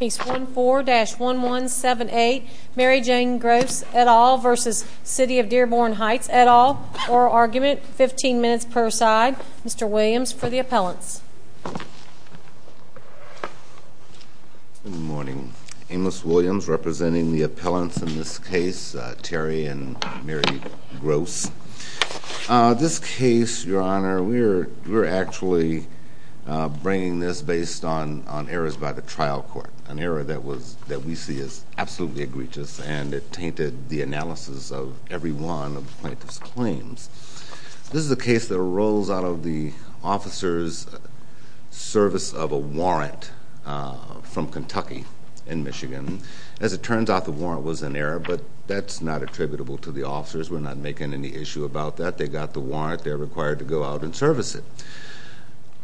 Case 14-1178 Mary Jane Gross et al. v. City of Dearborn Heights et al. Oral Argument 15 minutes per side. Mr. Williams for the appellants. Good morning. Amos Williams representing the appellants in this case Terry and Mary on Errors by the Trial Court, an error that we see as absolutely egregious and it tainted the analysis of every one of the plaintiff's claims. This is a case that arose out of the officer's service of a warrant from Kentucky in Michigan. As it turns out, the warrant was an error, but that's not attributable to the officers. We're not making any issue about that. They got the warrant. They're required to go out and service it.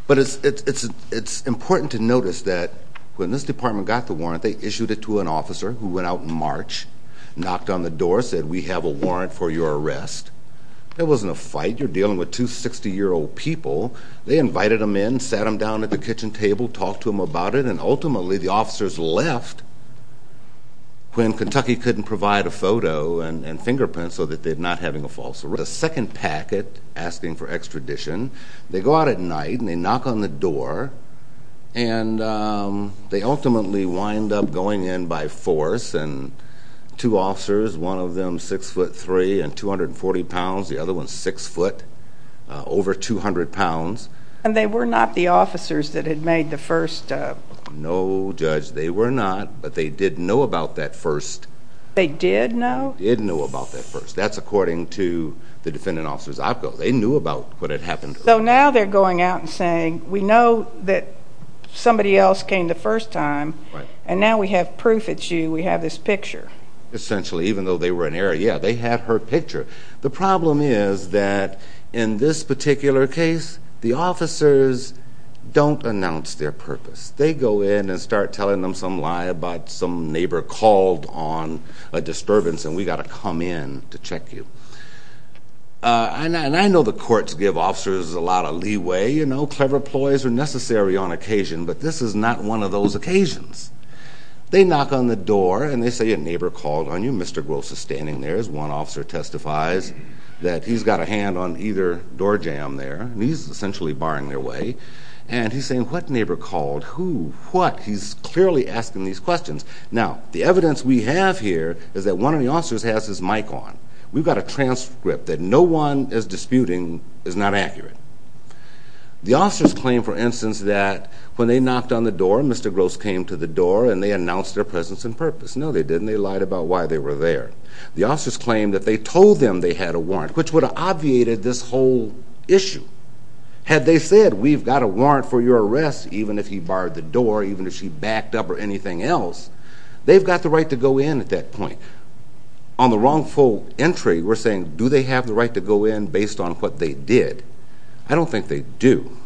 But it's important to notice that when this department got the warrant, they issued it to an officer who went out in March, knocked on the door, said, we have a warrant for your arrest. That wasn't a fight. You're dealing with two 60-year-old people. They invited them in, sat them down at the kitchen table, talked to them about it, and ultimately the officers left when Kentucky couldn't provide a photo and fingerprint so that they're not having a false arrest. The second packet, asking for extradition, they go out at night and they knock on the door and they ultimately wind up going in by force. Two officers, one of them 6'3 and 240 pounds, the other one 6'0, over 200 pounds. And they were not the officers that had made the first... No, Judge, they were not, but they did know about that first... They did know about that first. That's according to the defendant officer's op code. They knew about what had happened. So now they're going out and saying, we know that somebody else came the first time, and now we have proof it's you. We have this picture. Essentially, even though they were in error, yeah, they had her picture. The problem is that in this particular case, the officers don't announce their purpose. They go in and start telling them some lie about some neighbor called on a disturbance and we gotta come in to check you. And I know the courts give officers a lot of leeway. Clever ploys are necessary on occasion, but this is not one of those occasions. They knock on the door and they say a neighbor called on you. Mr. Gross is standing there as one officer testifies that he's got a hand on either door jamb there, and he's essentially barring their way. And he's saying, what neighbor called? Who? What? He's clearly asking these questions. Now, the evidence we have here is that one of the officers has his mic on. We've got a transcript that no one is disputing is not accurate. The officers claim, for instance, that when they knocked on the door, Mr. Gross came to the door and they announced their presence and purpose. No, they didn't. They lied about why they were there. The officers claimed that they told them they had a warrant, which would have obviated this whole issue. Had they said, we've got a warrant for your arrest, even if he barred the door, even if she backed up or anything else, they've got the right to go in at that point. On the wrongful entry, we're saying, do they have the right to go in based on what they did? I don't think they do.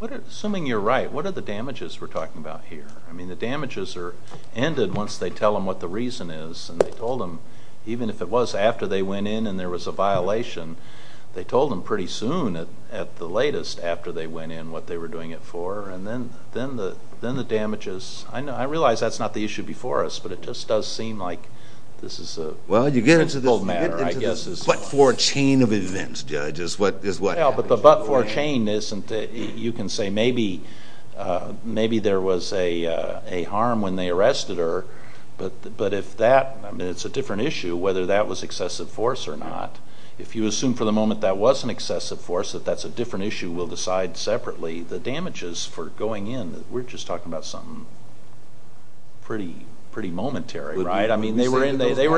Assuming you're right, what are the damages we're talking about here? I mean, the damages are ended once they tell them what the reason is, and they told them, even if it was after they went in and there was a violation, they told them pretty soon, at the latest, after they went in, what they were doing it for, and then the damages. I realize that's not the issue before us, but it just does seem like this is a simple matter, I guess. Well, you get into the butt-four chain of events, Judge, is what happens. Well, but the butt-four chain isn't, you can say maybe there was a harm when they arrested her, but if that, it's a different issue whether that was excessive force or not. If you assume for the moment that was an excessive force, that's a different issue, we'll decide separately. The damages for going in, we're just talking about something pretty momentary, right? I mean, they were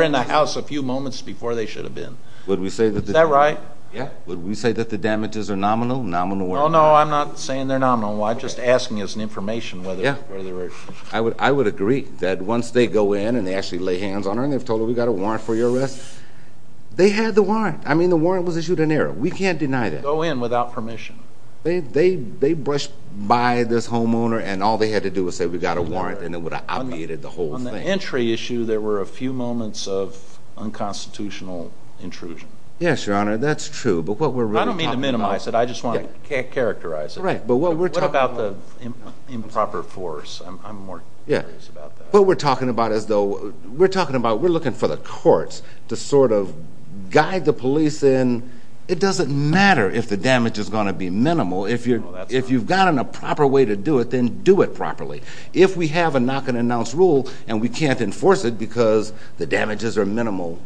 in the house a few moments before they should have been. Is that right? Yeah. Would we say that the damages are nominal? No, I'm not saying they're nominal, I'm just asking as we've got a warrant for your arrest. They had the warrant. I mean, the warrant was issued in error. We can't deny that. Go in without permission. They brushed by this homeowner and all they had to do was say, we've got a warrant, and it would have obviated the whole thing. On the entry issue, there were a few moments of unconstitutional intrusion. Yes, Your Honor, that's true, but what we're really talking about. I don't mean to minimize it, I just want to characterize it. Right, but what we're talking about. What about the court? What we're talking about, we're looking for the courts to sort of guide the police in. It doesn't matter if the damage is going to be minimal. If you've got a proper way to do it, then do it properly. If we have a knock and announce rule, and we can't enforce it because the damages are minimal,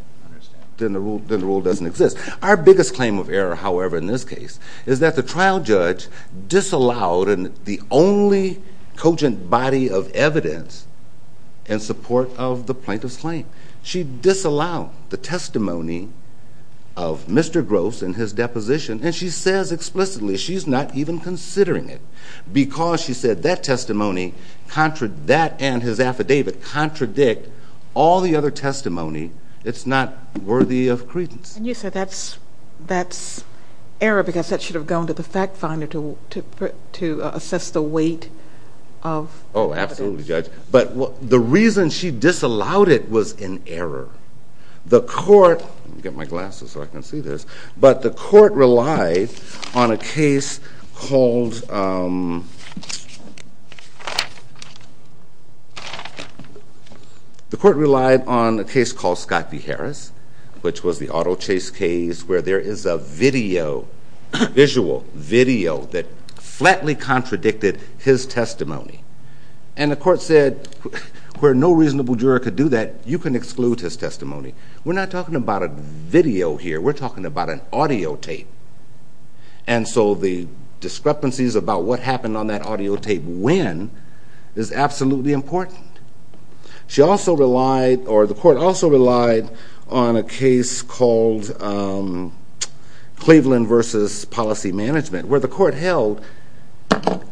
then the rule doesn't exist. Our biggest claim of error, however, in this case, is that the trial judge disallowed the only cogent body of evidence in support of the plaintiff's claim. She disallowed the testimony of Mr. Gross and his deposition, and she says explicitly she's not even considering it because she said that testimony, that and his affidavit contradict all the other testimony that's not worthy of credence. You said that's error because that should have gone to the fact finder to assess the but the reason she disallowed it was in error. The court, let me get my glasses so I can see this, but the court relied on a case called, the court relied on a case called Scott v. Harris, which was the auto chase case where there is a video, visual, video that flatly contradicted his testimony. And the court said where no reasonable juror could do that, you can exclude his testimony. We're not talking about a video here, we're talking about an audio tape. And so the discrepancies about what happened on that audio tape when is absolutely important. She also relied, or the court also relied on a case called Cleveland v. Policy Management, where the court held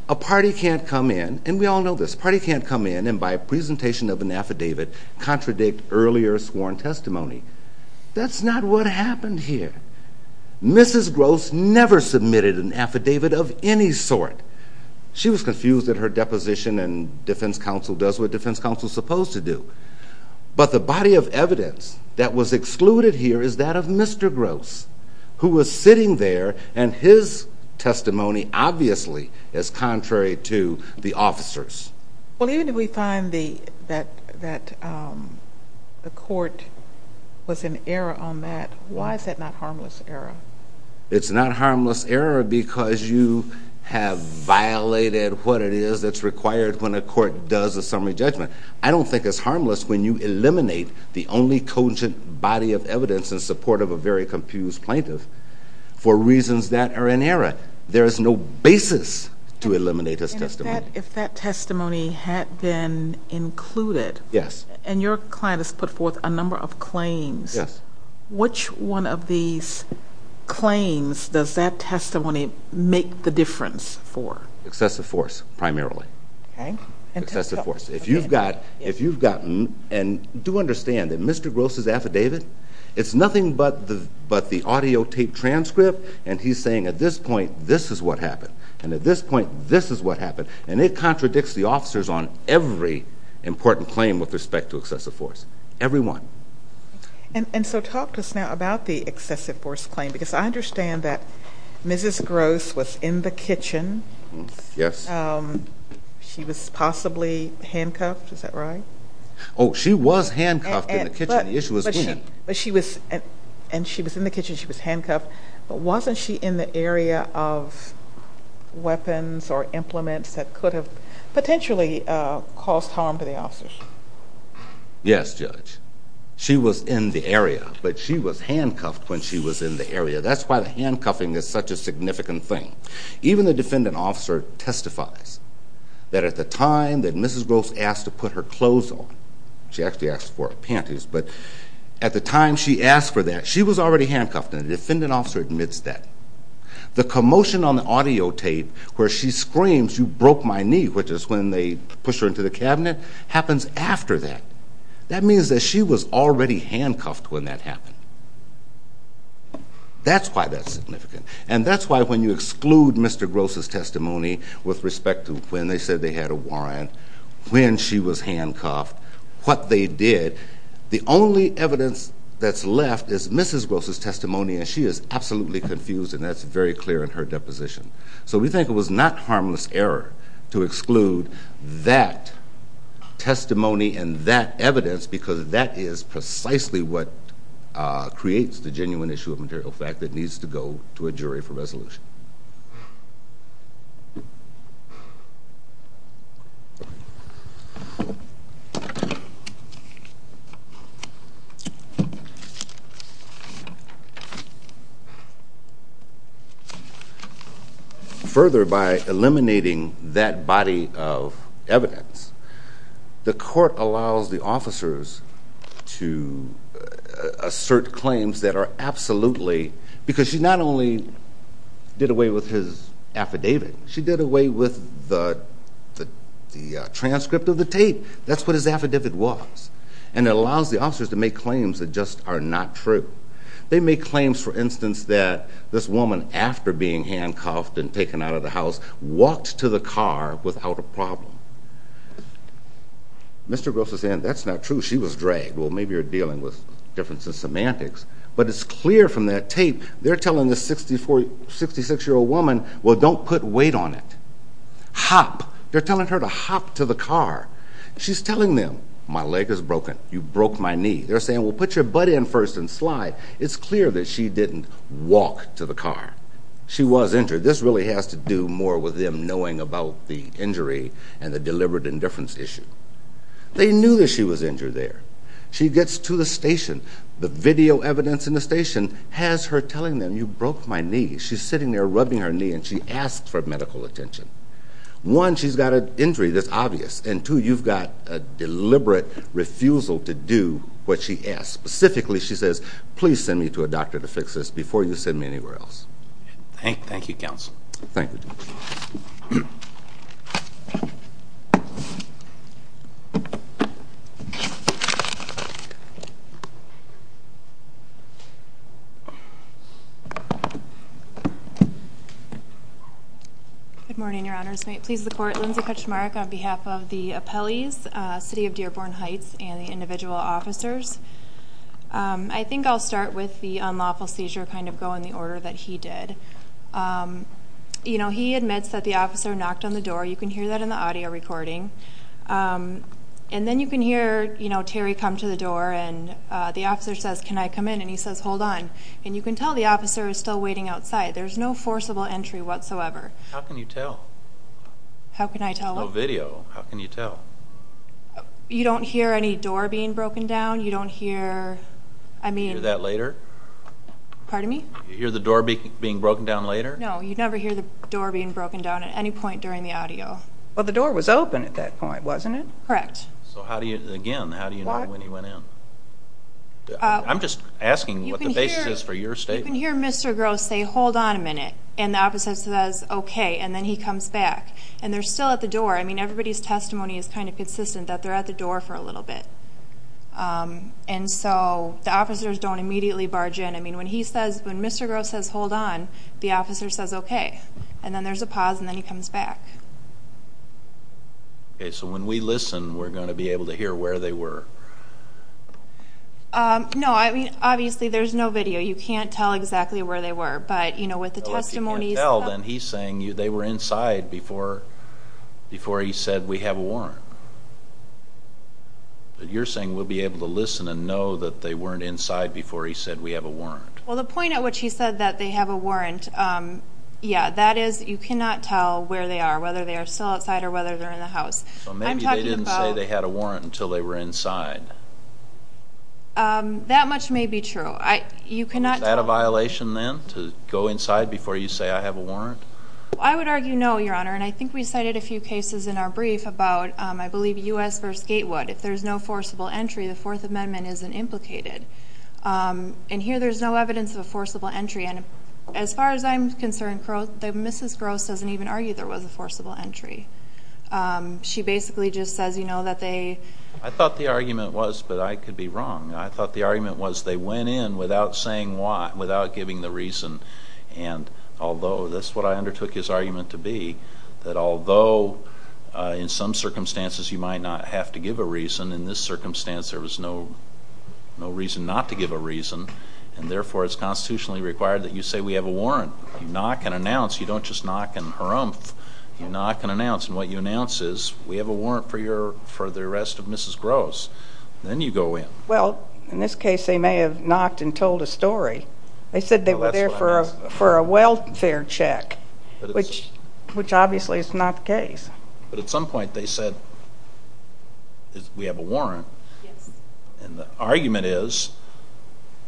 a party can't come in, and we all know this, a party can't come in and by a presentation of an affidavit contradict earlier sworn testimony. That's not what happened here. Mrs. Gross never submitted an affidavit of any sort. She was confused at her deposition and defense counsel does what defense counsel is supposed to do. But the body of evidence that was excluded here is that of Mr. Gross, who was sitting there and his testimony obviously is contrary to the officers. Well even if we find that the court was in error on that, why is that not harmless error? It's not harmless error because you have violated what it is that's required when a court does a summary judgment. I don't think it's harmless when you eliminate the only cogent body of evidence in support of a very confused plaintiff for reasons that are in error. There is no basis to eliminate this testimony. If that testimony had been included and your client has put forth a number of claims, which one of these claims does that testimony make the difference for? Excessive force, primarily. If you've gotten, and do understand that Mr. Gross' affidavit, it's nothing but the audio tape transcript and he's saying at this point, this is what happened. And at this point, this is what happened. And it contradicts the officers on every important claim with respect to excessive force. Every one. And so talk to us now about the excessive force claim because I understand that Mrs. Gross was in the kitchen. Yes. She was possibly handcuffed. Is that right? Oh, she was handcuffed in the kitchen. The issue is when. And she was in the kitchen. She was handcuffed. But wasn't she in the area of weapons or implements that could have potentially caused harm to the officers? Yes, Judge. She was in the area. But she was handcuffed when she was in the area. That's why the handcuffing is such a concern. When Mrs. Gross asked to put her clothes on, she actually asked for her panties, but at the time she asked for that, she was already handcuffed and the defendant officer admits that. The commotion on the audio tape where she screams, you broke my knee, which is when they push her into the cabinet, happens after that. That means that she was already handcuffed when that happened. That's why that's significant. And that's why when you when she was handcuffed, what they did, the only evidence that's left is Mrs. Gross' testimony and she is absolutely confused and that's very clear in her deposition. So we think it was not harmless error to exclude that testimony and that evidence because that is precisely what creates the genuine issue of material fact that needs to go to a jury for further evidence. Further, by eliminating that body of evidence, the court allows the officers to assert claims that are absolutely, because she not only did away with his affidavit, she did away with the transcript of the tape. That's what his affidavit was. And it allows the officers to make claims that just are not true. They make claims, for instance, that this woman after being handcuffed and taken out of the house walked to the car without a problem. Mr. Gross is saying that's not true, she was dragged. Well, maybe you're dealing with different semantics, but it's clear from that tape, they're telling this 66-year-old woman, well don't put weight on it. Hop. They're telling her to hop to the car. She's telling them, my leg is broken, you broke my knee. They're saying, well put your butt in first and slide. It's clear that she didn't walk to the car. She was injured. This really has to do more with them knowing about the injury and the deliberate indifference issue. They knew that she was injured there. She gets to the station. The video evidence in the station has her telling them, you broke my knee. She's sitting there rubbing her knee and she asks for medical attention. One, she's got an injury that's obvious. And two, you've got a deliberate refusal to do what she asks. Specifically, she says, please send me to a doctor to fix this before you send me anywhere else. Thank you, Counsel. Thank you. Good morning, Your Honors. May it please the Court, Lindsay Kutchmark on behalf of the appellees, City of Dearborn Heights, and the individual officers. I think I'll start with the unlawful seizure kind of go in the order that he did. He admits that the officer knocked on the door. You can hear that in the audio recording. And then you can hear Terry come to the door and the officer says, can I come in? And he says, hold on. And you can tell the officer is still waiting outside. There's no forcible entry whatsoever. How can you tell? How can I tell what? No video. How can you tell? You don't hear any door being broken down. You don't hear, I mean. You hear that later? Pardon me? You hear the door being broken down later? No, you never hear the door being broken down at any point during the audio. Well, the door was open at that point, wasn't it? Correct. So how do you, again, how do you know when he went in? I'm just asking what the basis is for your statement. You can hear Mr. Gross say, hold on a minute. And the officer says, okay. And then he comes back. And they're still at the door. I mean, everybody's testimony is kind of consistent that they're at the door for a little bit. And so the officers don't immediately barge in. I mean, when he says, when Mr. Gross says, hold on, the officer says, okay. And then there's a pause and then he comes back. Okay, so when we listen, we're sure. No, I mean, obviously there's no video. You can't tell exactly where they were. But, you know, with the testimonies. If you can't tell, then he's saying they were inside before he said we have a warrant. But you're saying we'll be able to listen and know that they weren't inside before he said we have a warrant. Well, the point at which he said that they have a warrant, yeah, that is you cannot tell where they are, whether they are still outside or whether they're in the house. I'm talking about. So maybe they didn't say they had a warrant inside. That much may be true. Is that a violation then, to go inside before you say I have a warrant? I would argue no, Your Honor. And I think we cited a few cases in our brief about, I believe, U.S. v. Gatewood. If there's no forcible entry, the Fourth Amendment isn't implicated. And here there's no evidence of a forcible entry. And as far as I'm concerned, Mrs. Gross doesn't even argue there was a forcible entry. She basically just says, you know, I thought the argument was, but I could be wrong. I thought the argument was they went in without saying why, without giving the reason. And although, that's what I undertook his argument to be, that although in some circumstances you might not have to give a reason, in this circumstance there was no reason not to give a reason. And therefore it's constitutionally required that you say we have a warrant. You knock and announce. You don't just knock and harumph. You knock and announce. And what you announce is we have a warrant for the arrest of Mrs. Gross. Then you go in. Well, in this case they may have knocked and told a story. They said they were there for a welfare check, which obviously is not the case. But at some point they said we have a warrant. And the argument is,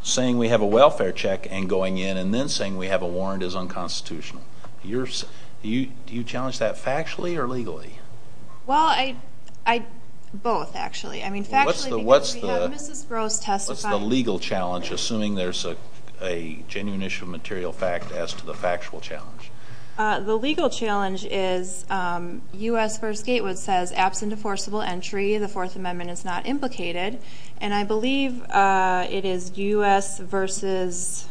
saying we have a welfare check and going in and then saying we have a warrant is unconstitutional. Do you challenge that factually or legally? Well, both actually. I mean factually because we have Mrs. Gross testifying. What's the legal challenge, assuming there's a genuine issue of material fact, as to the factual challenge? The legal challenge is U.S. v. Gatewood says, absent a forcible entry, the Fourth Amendment is not implicated. And I believe it is U.S. v.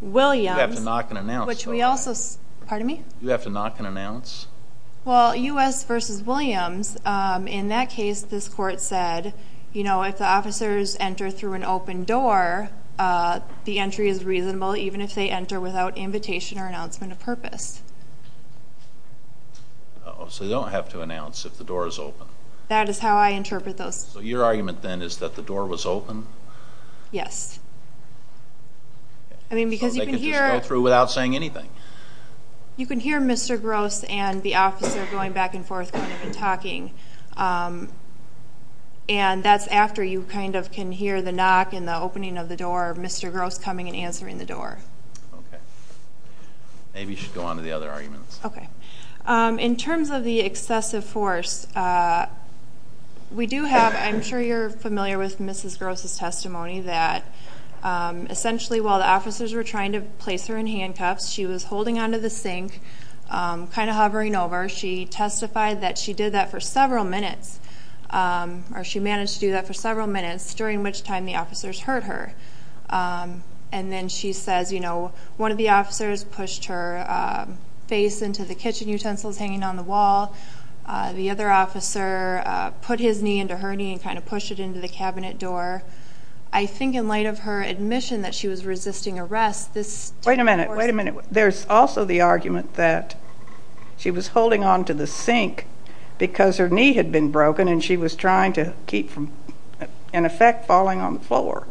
Williams, which we also, pardon me? You have to knock and announce? Well, U.S. v. Williams, in that case this court said, you know, if the officers enter through an open door, the entry is reasonable even if they enter without invitation or announcement of purpose. So they don't have to announce if the door is open? That is how I interpret those. So your argument then is that the door was open? Yes. So they could just go through without saying anything? You can hear Mr. Gross and the officer going back and forth kind of talking. And that's after you kind of can hear the knock and the opening of the door, Mr. Gross coming and answering the door. Maybe you should go on to the other arguments. In terms of the excessive force, we do have, I'm sure you're familiar with Mrs. Gross' testimony that essentially while the officers were trying to place her in handcuffs, she was holding onto the sink, kind of hovering over. She testified that she did that for several minutes, or she managed to do that for several minutes, during which time the officers hurt her. And then she says, you know, one of the officers pushed her face into the kitchen utensils hanging on the wall. The other officer put his knee into her knee and kind of pushed it into the cabinet door. I think in light of her admission that she was resisting arrest, this... Wait a minute. There's also the argument that she was holding onto the sink because her knee had been broken and she was trying to keep from, in effect, falling on the floor.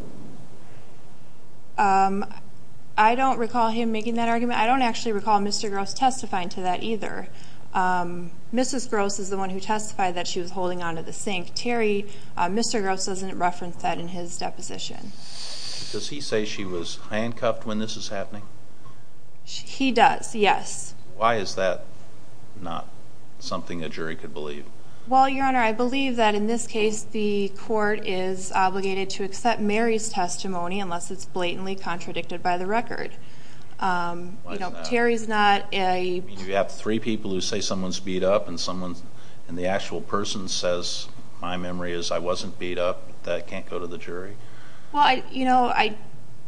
I don't recall him making that argument. I don't actually recall Mr. Gross testifying to that either. Mrs. Gross is the one who testified that she was holding onto the sink. Terry, Mr. Gross doesn't reference that in his deposition. Does he say she was handcuffed when this is happening? He does, yes. Why is that not something a jury could believe? Well, Your Honor, I believe that in this case the court is obligated to accept Mary's testimony unless it's blatantly contradicted by the record. Why is that? Terry's not a... You have three people who say someone's beat up and the actual person says, my memory is I wasn't beat up. That can't go to the jury. Well, you know,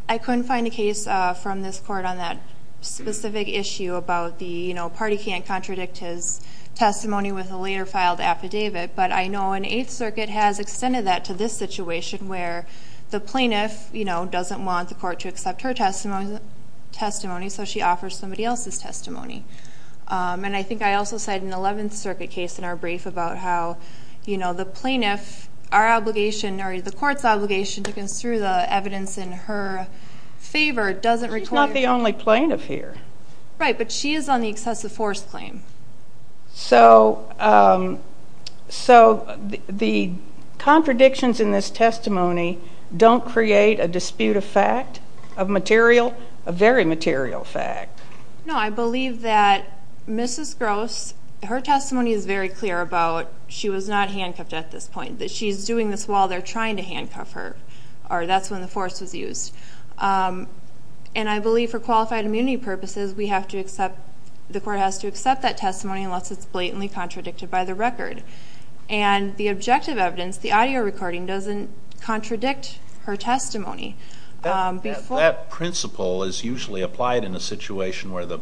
I couldn't find a case from this court on that specific issue about the, you know, a party can't contradict his testimony with a later filed affidavit. But I know in Eighth Circuit has extended that to this situation where the plaintiff, you know, doesn't want the court to accept her testimony, so she offers somebody else's testimony. And I think I also cited an Eleventh Circuit case in our brief about how, you know, the plaintiff, our obligation, or the court's obligation to construe the evidence in her favor doesn't require... She's not the only plaintiff here. Right, but she is on the excessive force claim. So, so the contradictions in this testimony don't create a dispute of fact, of material, a very material fact. No, I believe that Mrs. Gross, her testimony is very clear about she was not handcuffed at this point, that she's doing this while they're trying to handcuff her, or that's when the force was used. And I believe for qualified immunity purposes, we have to accept, the court has to accept that testimony unless it's blatantly contradicted by the record. And the objective evidence, the audio recording, doesn't contradict her testimony. That principle is usually applied in a situation where the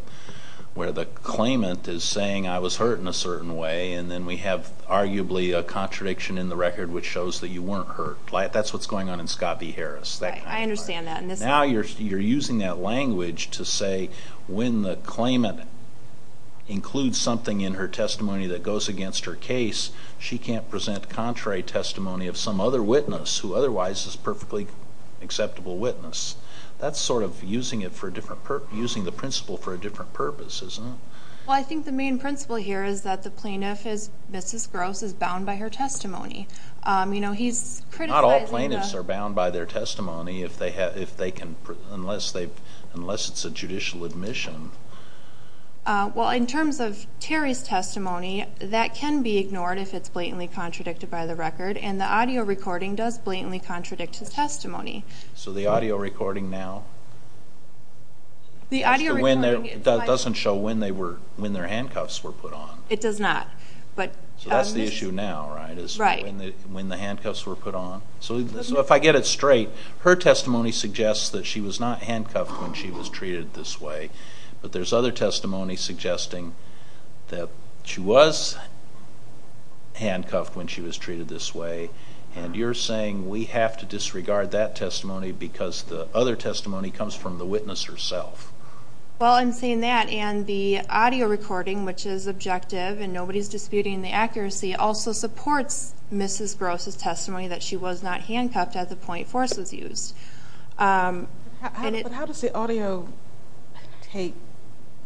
claimant is saying I was hurt in a certain way, and then we have arguably a contradiction in the record which shows that you weren't hurt. That's what's going on in Scott v. Harris. Right, I understand that. Now you're using that language to say when the claimant includes something in her testimony that goes against her case, she can't present contrary testimony of some other witness who otherwise is a perfectly acceptable witness. That's sort of using the principle for a different purpose, isn't it? Well, I think the main principle here is that the plaintiff, Mrs. Gross, is bound by her testimony. Not all plaintiffs are bound by their testimony unless it's a judicial admission. Well, in terms of Terry's testimony, that can be ignored if it's blatantly contradicted by the record, and the audio recording does blatantly contradict his testimony. So the audio recording now doesn't show when their handcuffs were put on. It does not. So that's the issue now, right, is when the handcuffs were put on? So if I get it straight, her testimony suggests that she was not handcuffed when she was treated this way, but there's other testimony suggesting that she was handcuffed when she was treated this way, and you're saying we have to disregard that testimony because the other testimony comes from the witness herself. Well, I'm saying that, and the audio recording, which is objective and nobody's disputing the accuracy, also supports Mrs. Gross's testimony that she was not handcuffed at the point force was used. But how does the audio tape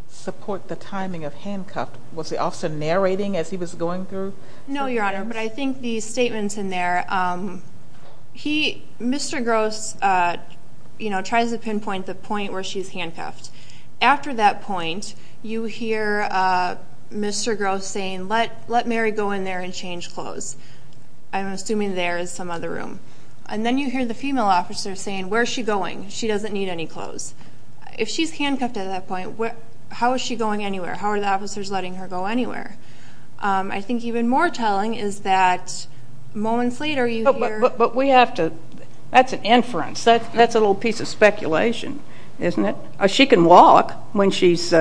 support the timing of handcuffed? Was the officer narrating as he was going through? No, Your Honor, but I think the statements in there, Mr. Gross tries to pinpoint the point where she's handcuffed. After that point, you hear Mr. Gross saying, let Mary go in there and another room, and then you hear the female officer saying, where's she going? She doesn't need any clothes. If she's handcuffed at that point, how is she going anywhere? How are the officers letting her go anywhere? I think even more telling is that moments later you hear... But we have to, that's an inference. That's a little piece of speculation, isn't it? She can walk when she's,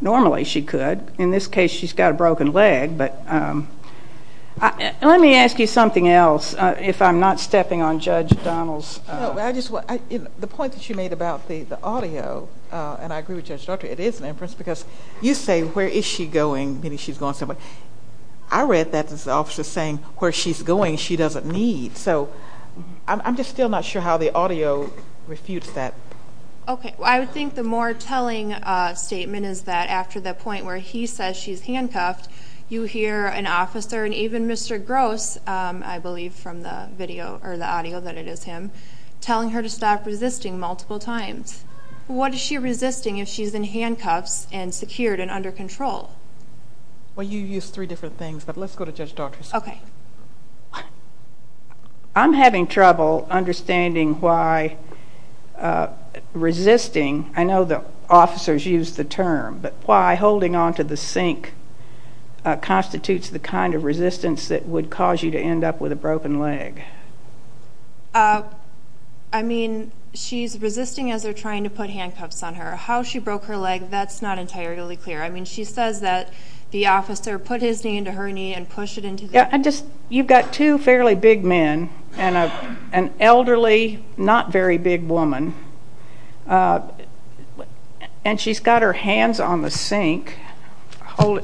normally she could. In this case, she's got a broken leg, but let me ask you something else, if I'm not stepping on Judge Donald's... No, but the point that you made about the audio, and I agree with Judge Daugherty, it is an inference because you say, where is she going? I read that as the officer saying, where she's going she doesn't need. So I'm just still not sure how the audio refutes that. Okay, I think the more telling statement is that after the point where he says she's handcuffed, you hear an officer, and even Mr. Gross, I believe from the audio that it is him, telling her to stop resisting multiple times. What is she resisting if she's in handcuffs and secured and under control? Well, you used three different things, but let's go to Judge Daugherty. Okay. I'm having trouble understanding why resisting, I know the officers use the term, but why holding onto the sink constitutes the kind of resistance that would cause you to end up with a broken leg? I mean, she's resisting as they're trying to put handcuffs on her. How she broke her leg, that's not entirely clear. I mean, she says that the officer put his knee into her knee and pushed it into the... You've got two fairly big men and an officer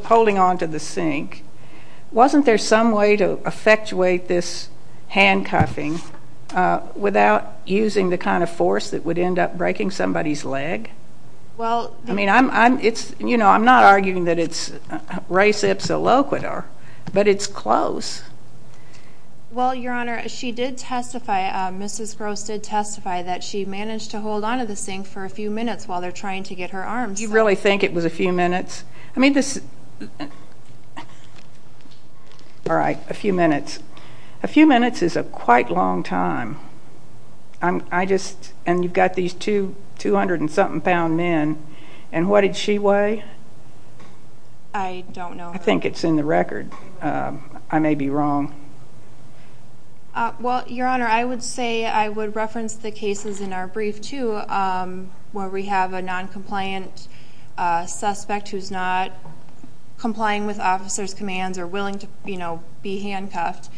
holding onto the sink. Wasn't there some way to effectuate this handcuffing without using the kind of force that would end up breaking somebody's leg? I mean, I'm not arguing that it's res ipsa loquitur, but it's close. Well, Your Honor, she did testify, Mrs. Gross did testify that she managed to hold onto the sink for a few minutes while they're trying to get her arms. You really think it was a few minutes? I mean, this... All right, a few minutes. A few minutes is a quite long time. I just... And you've got these two 200 and something pound men, and what did she weigh? I don't know. I think it's in the record. I may be wrong. Well, Your Honor, I would say I would reference the cases in our brief too, where we have a noncompliant suspect who's not complying with officer's commands or willing to be handcuffed,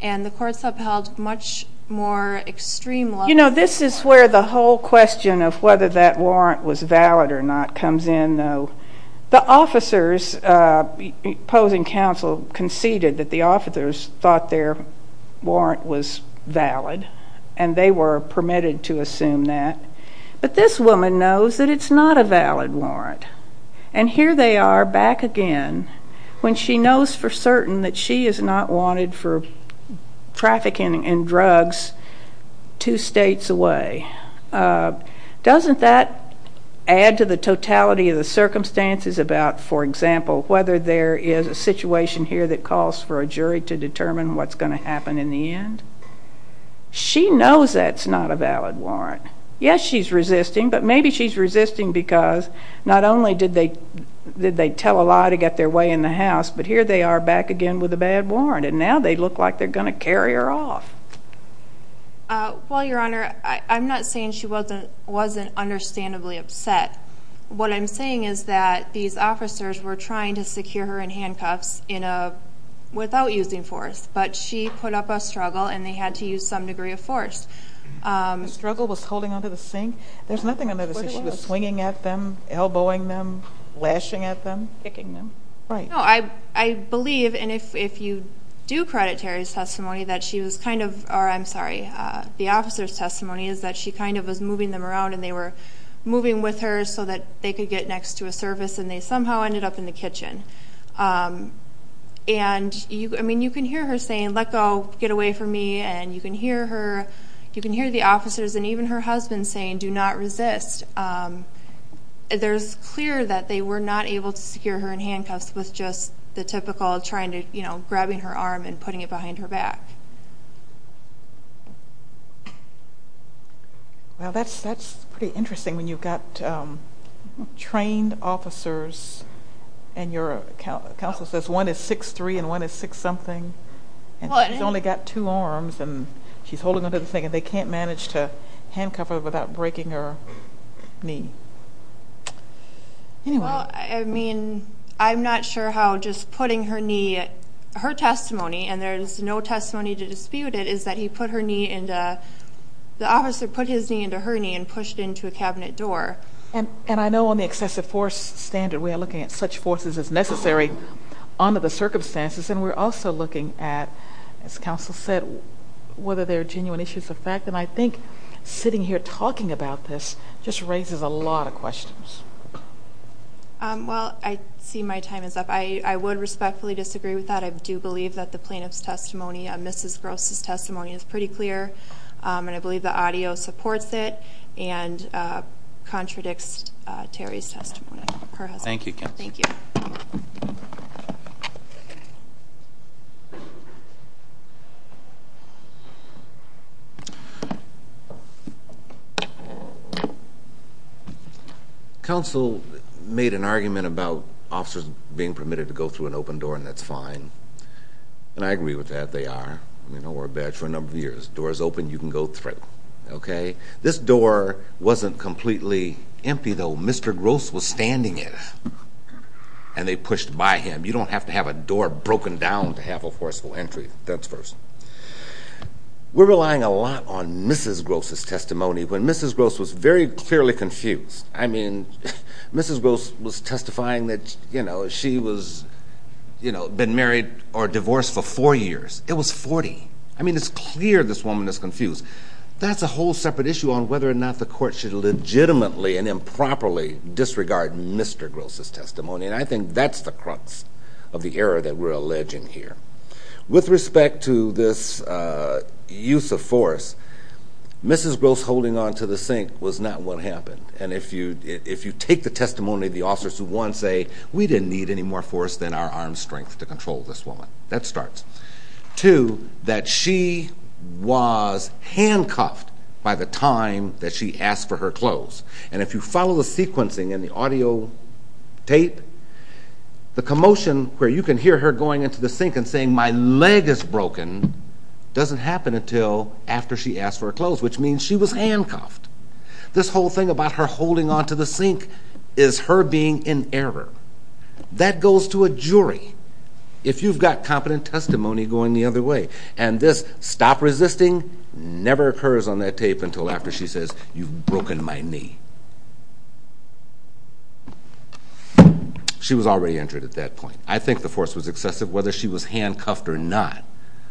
and the courts have held much more extreme... You know, this is where the whole question of whether that warrant was valid or not comes in, though. The officers opposing counsel conceded that the officers thought their warrant was valid, and they were permitted to assume that, but this woman knows that it's not a valid warrant, and here they are back again when she knows for certain that she is not wanted for trafficking in drugs two states away. Doesn't that add to the totality of the circumstances about, for example, whether there is a situation here that calls for a jury to determine what's she knows that's not a valid warrant. Yes, she's resisting, but maybe she's resisting because not only did they tell a lie to get their way in the house, but here they are back again with a bad warrant, and now they look like they're going to carry her off. Well, Your Honor, I'm not saying she wasn't understandably upset. What I'm saying is that these officers were trying to secure her in handcuffs without using force, but she put up a struggle, and they had to use some degree of force. The struggle was holding onto the sink? There's nothing under the sink. She was swinging at them, elbowing them, lashing at them? Kicking them. Right. No, I believe, and if you do credit Terry's testimony that she was kind of, or I'm sorry, the officer's testimony is that she kind of was moving them around, and they were moving with her so that they could get next to a service, and they somehow ended up in the kitchen. I mean, you can hear her saying let go, get away from me, and you can hear her, you can hear the officers, and even her husband saying do not resist. There's clear that they were not able to secure her in handcuffs with just the typical trying to, you know, grabbing her arm and putting it behind her back. Well, that's pretty interesting when you've got trained officers, and your counsel says one is six-three and one is six-something, and she's only got two arms, and she's holding onto the sink, and they can't manage to handcuff her without breaking her knee. Well, I mean, I'm not sure how just putting her knee, her testimony, and there's no testimony to dispute it, is that he put her knee into, the officer put his knee into her knee and pushed into a cabinet door. And I know on the excessive force standard we are looking at such forces as necessary under the circumstances, and we're also looking at, as counsel said, whether there are genuine issues of fact, and I think sitting here talking about this just raises a lot of questions. Well, I see my time is up. I would respectfully disagree with that. I do believe that the plaintiff's testimony, Mrs. Gross' testimony is pretty clear, and I believe the audio supports it and contradicts Terry's testimony. Thank you, Ken. Thank you. Counsel made an argument about officers being permitted to go through an open door, and that's fine. And I agree with that. They are. I mean, don't worry about it. For a number of years, doors open, you can go through. Okay? This door wasn't completely empty, though. Mr. Gross was standing in it, and they pushed by him. You don't have to have a door broken down to have a forceful entry. That's first. We're relying a lot on Mrs. Gross' testimony. When Mrs. Gross was very clearly confused, I mean, Mrs. Gross was testifying that, you know, she was, you know, been married or divorced for four years. It was 40. I mean, it's clear this woman is confused. That's a whole separate issue on whether or not the court should legitimately and improperly disregard Mr. Gross' testimony, and I think that's the crux of the error that we're alleging here. With respect to this use of force, Mrs. Gross holding on to the sink was not what happened. And if you take the testimony of the officers who, one, say, we didn't need any more force than our arm strength to control this woman. That starts. Two, that she was handcuffed by the time that she asked for her clothes. And if you follow the sequencing in the audio tape, the commotion where you can hear her going into the sink and saying, my leg is broken, doesn't happen until after she asked for her clothes, which means she was handcuffed. This whole thing about her holding on to the sink is her being in error. That goes to a jury if you've got competent testimony going the other way. And this stop resisting never occurs on that tape until after she says, you've broken my knee. She was already injured at that point. I think the force was excessive. Whether she was handcuffed or not,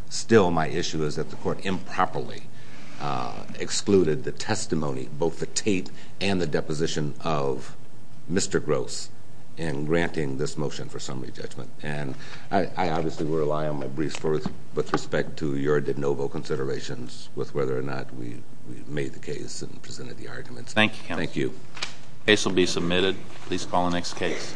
still my issue is that the court improperly excluded the testimony, both the tape and the deposition of Mr. Gross in granting this motion for summary judgment. And I obviously will rely on my briefs with respect to your de novo considerations with whether or not we made the case and presented the arguments. Thank you. The case will be submitted. Please call the next case.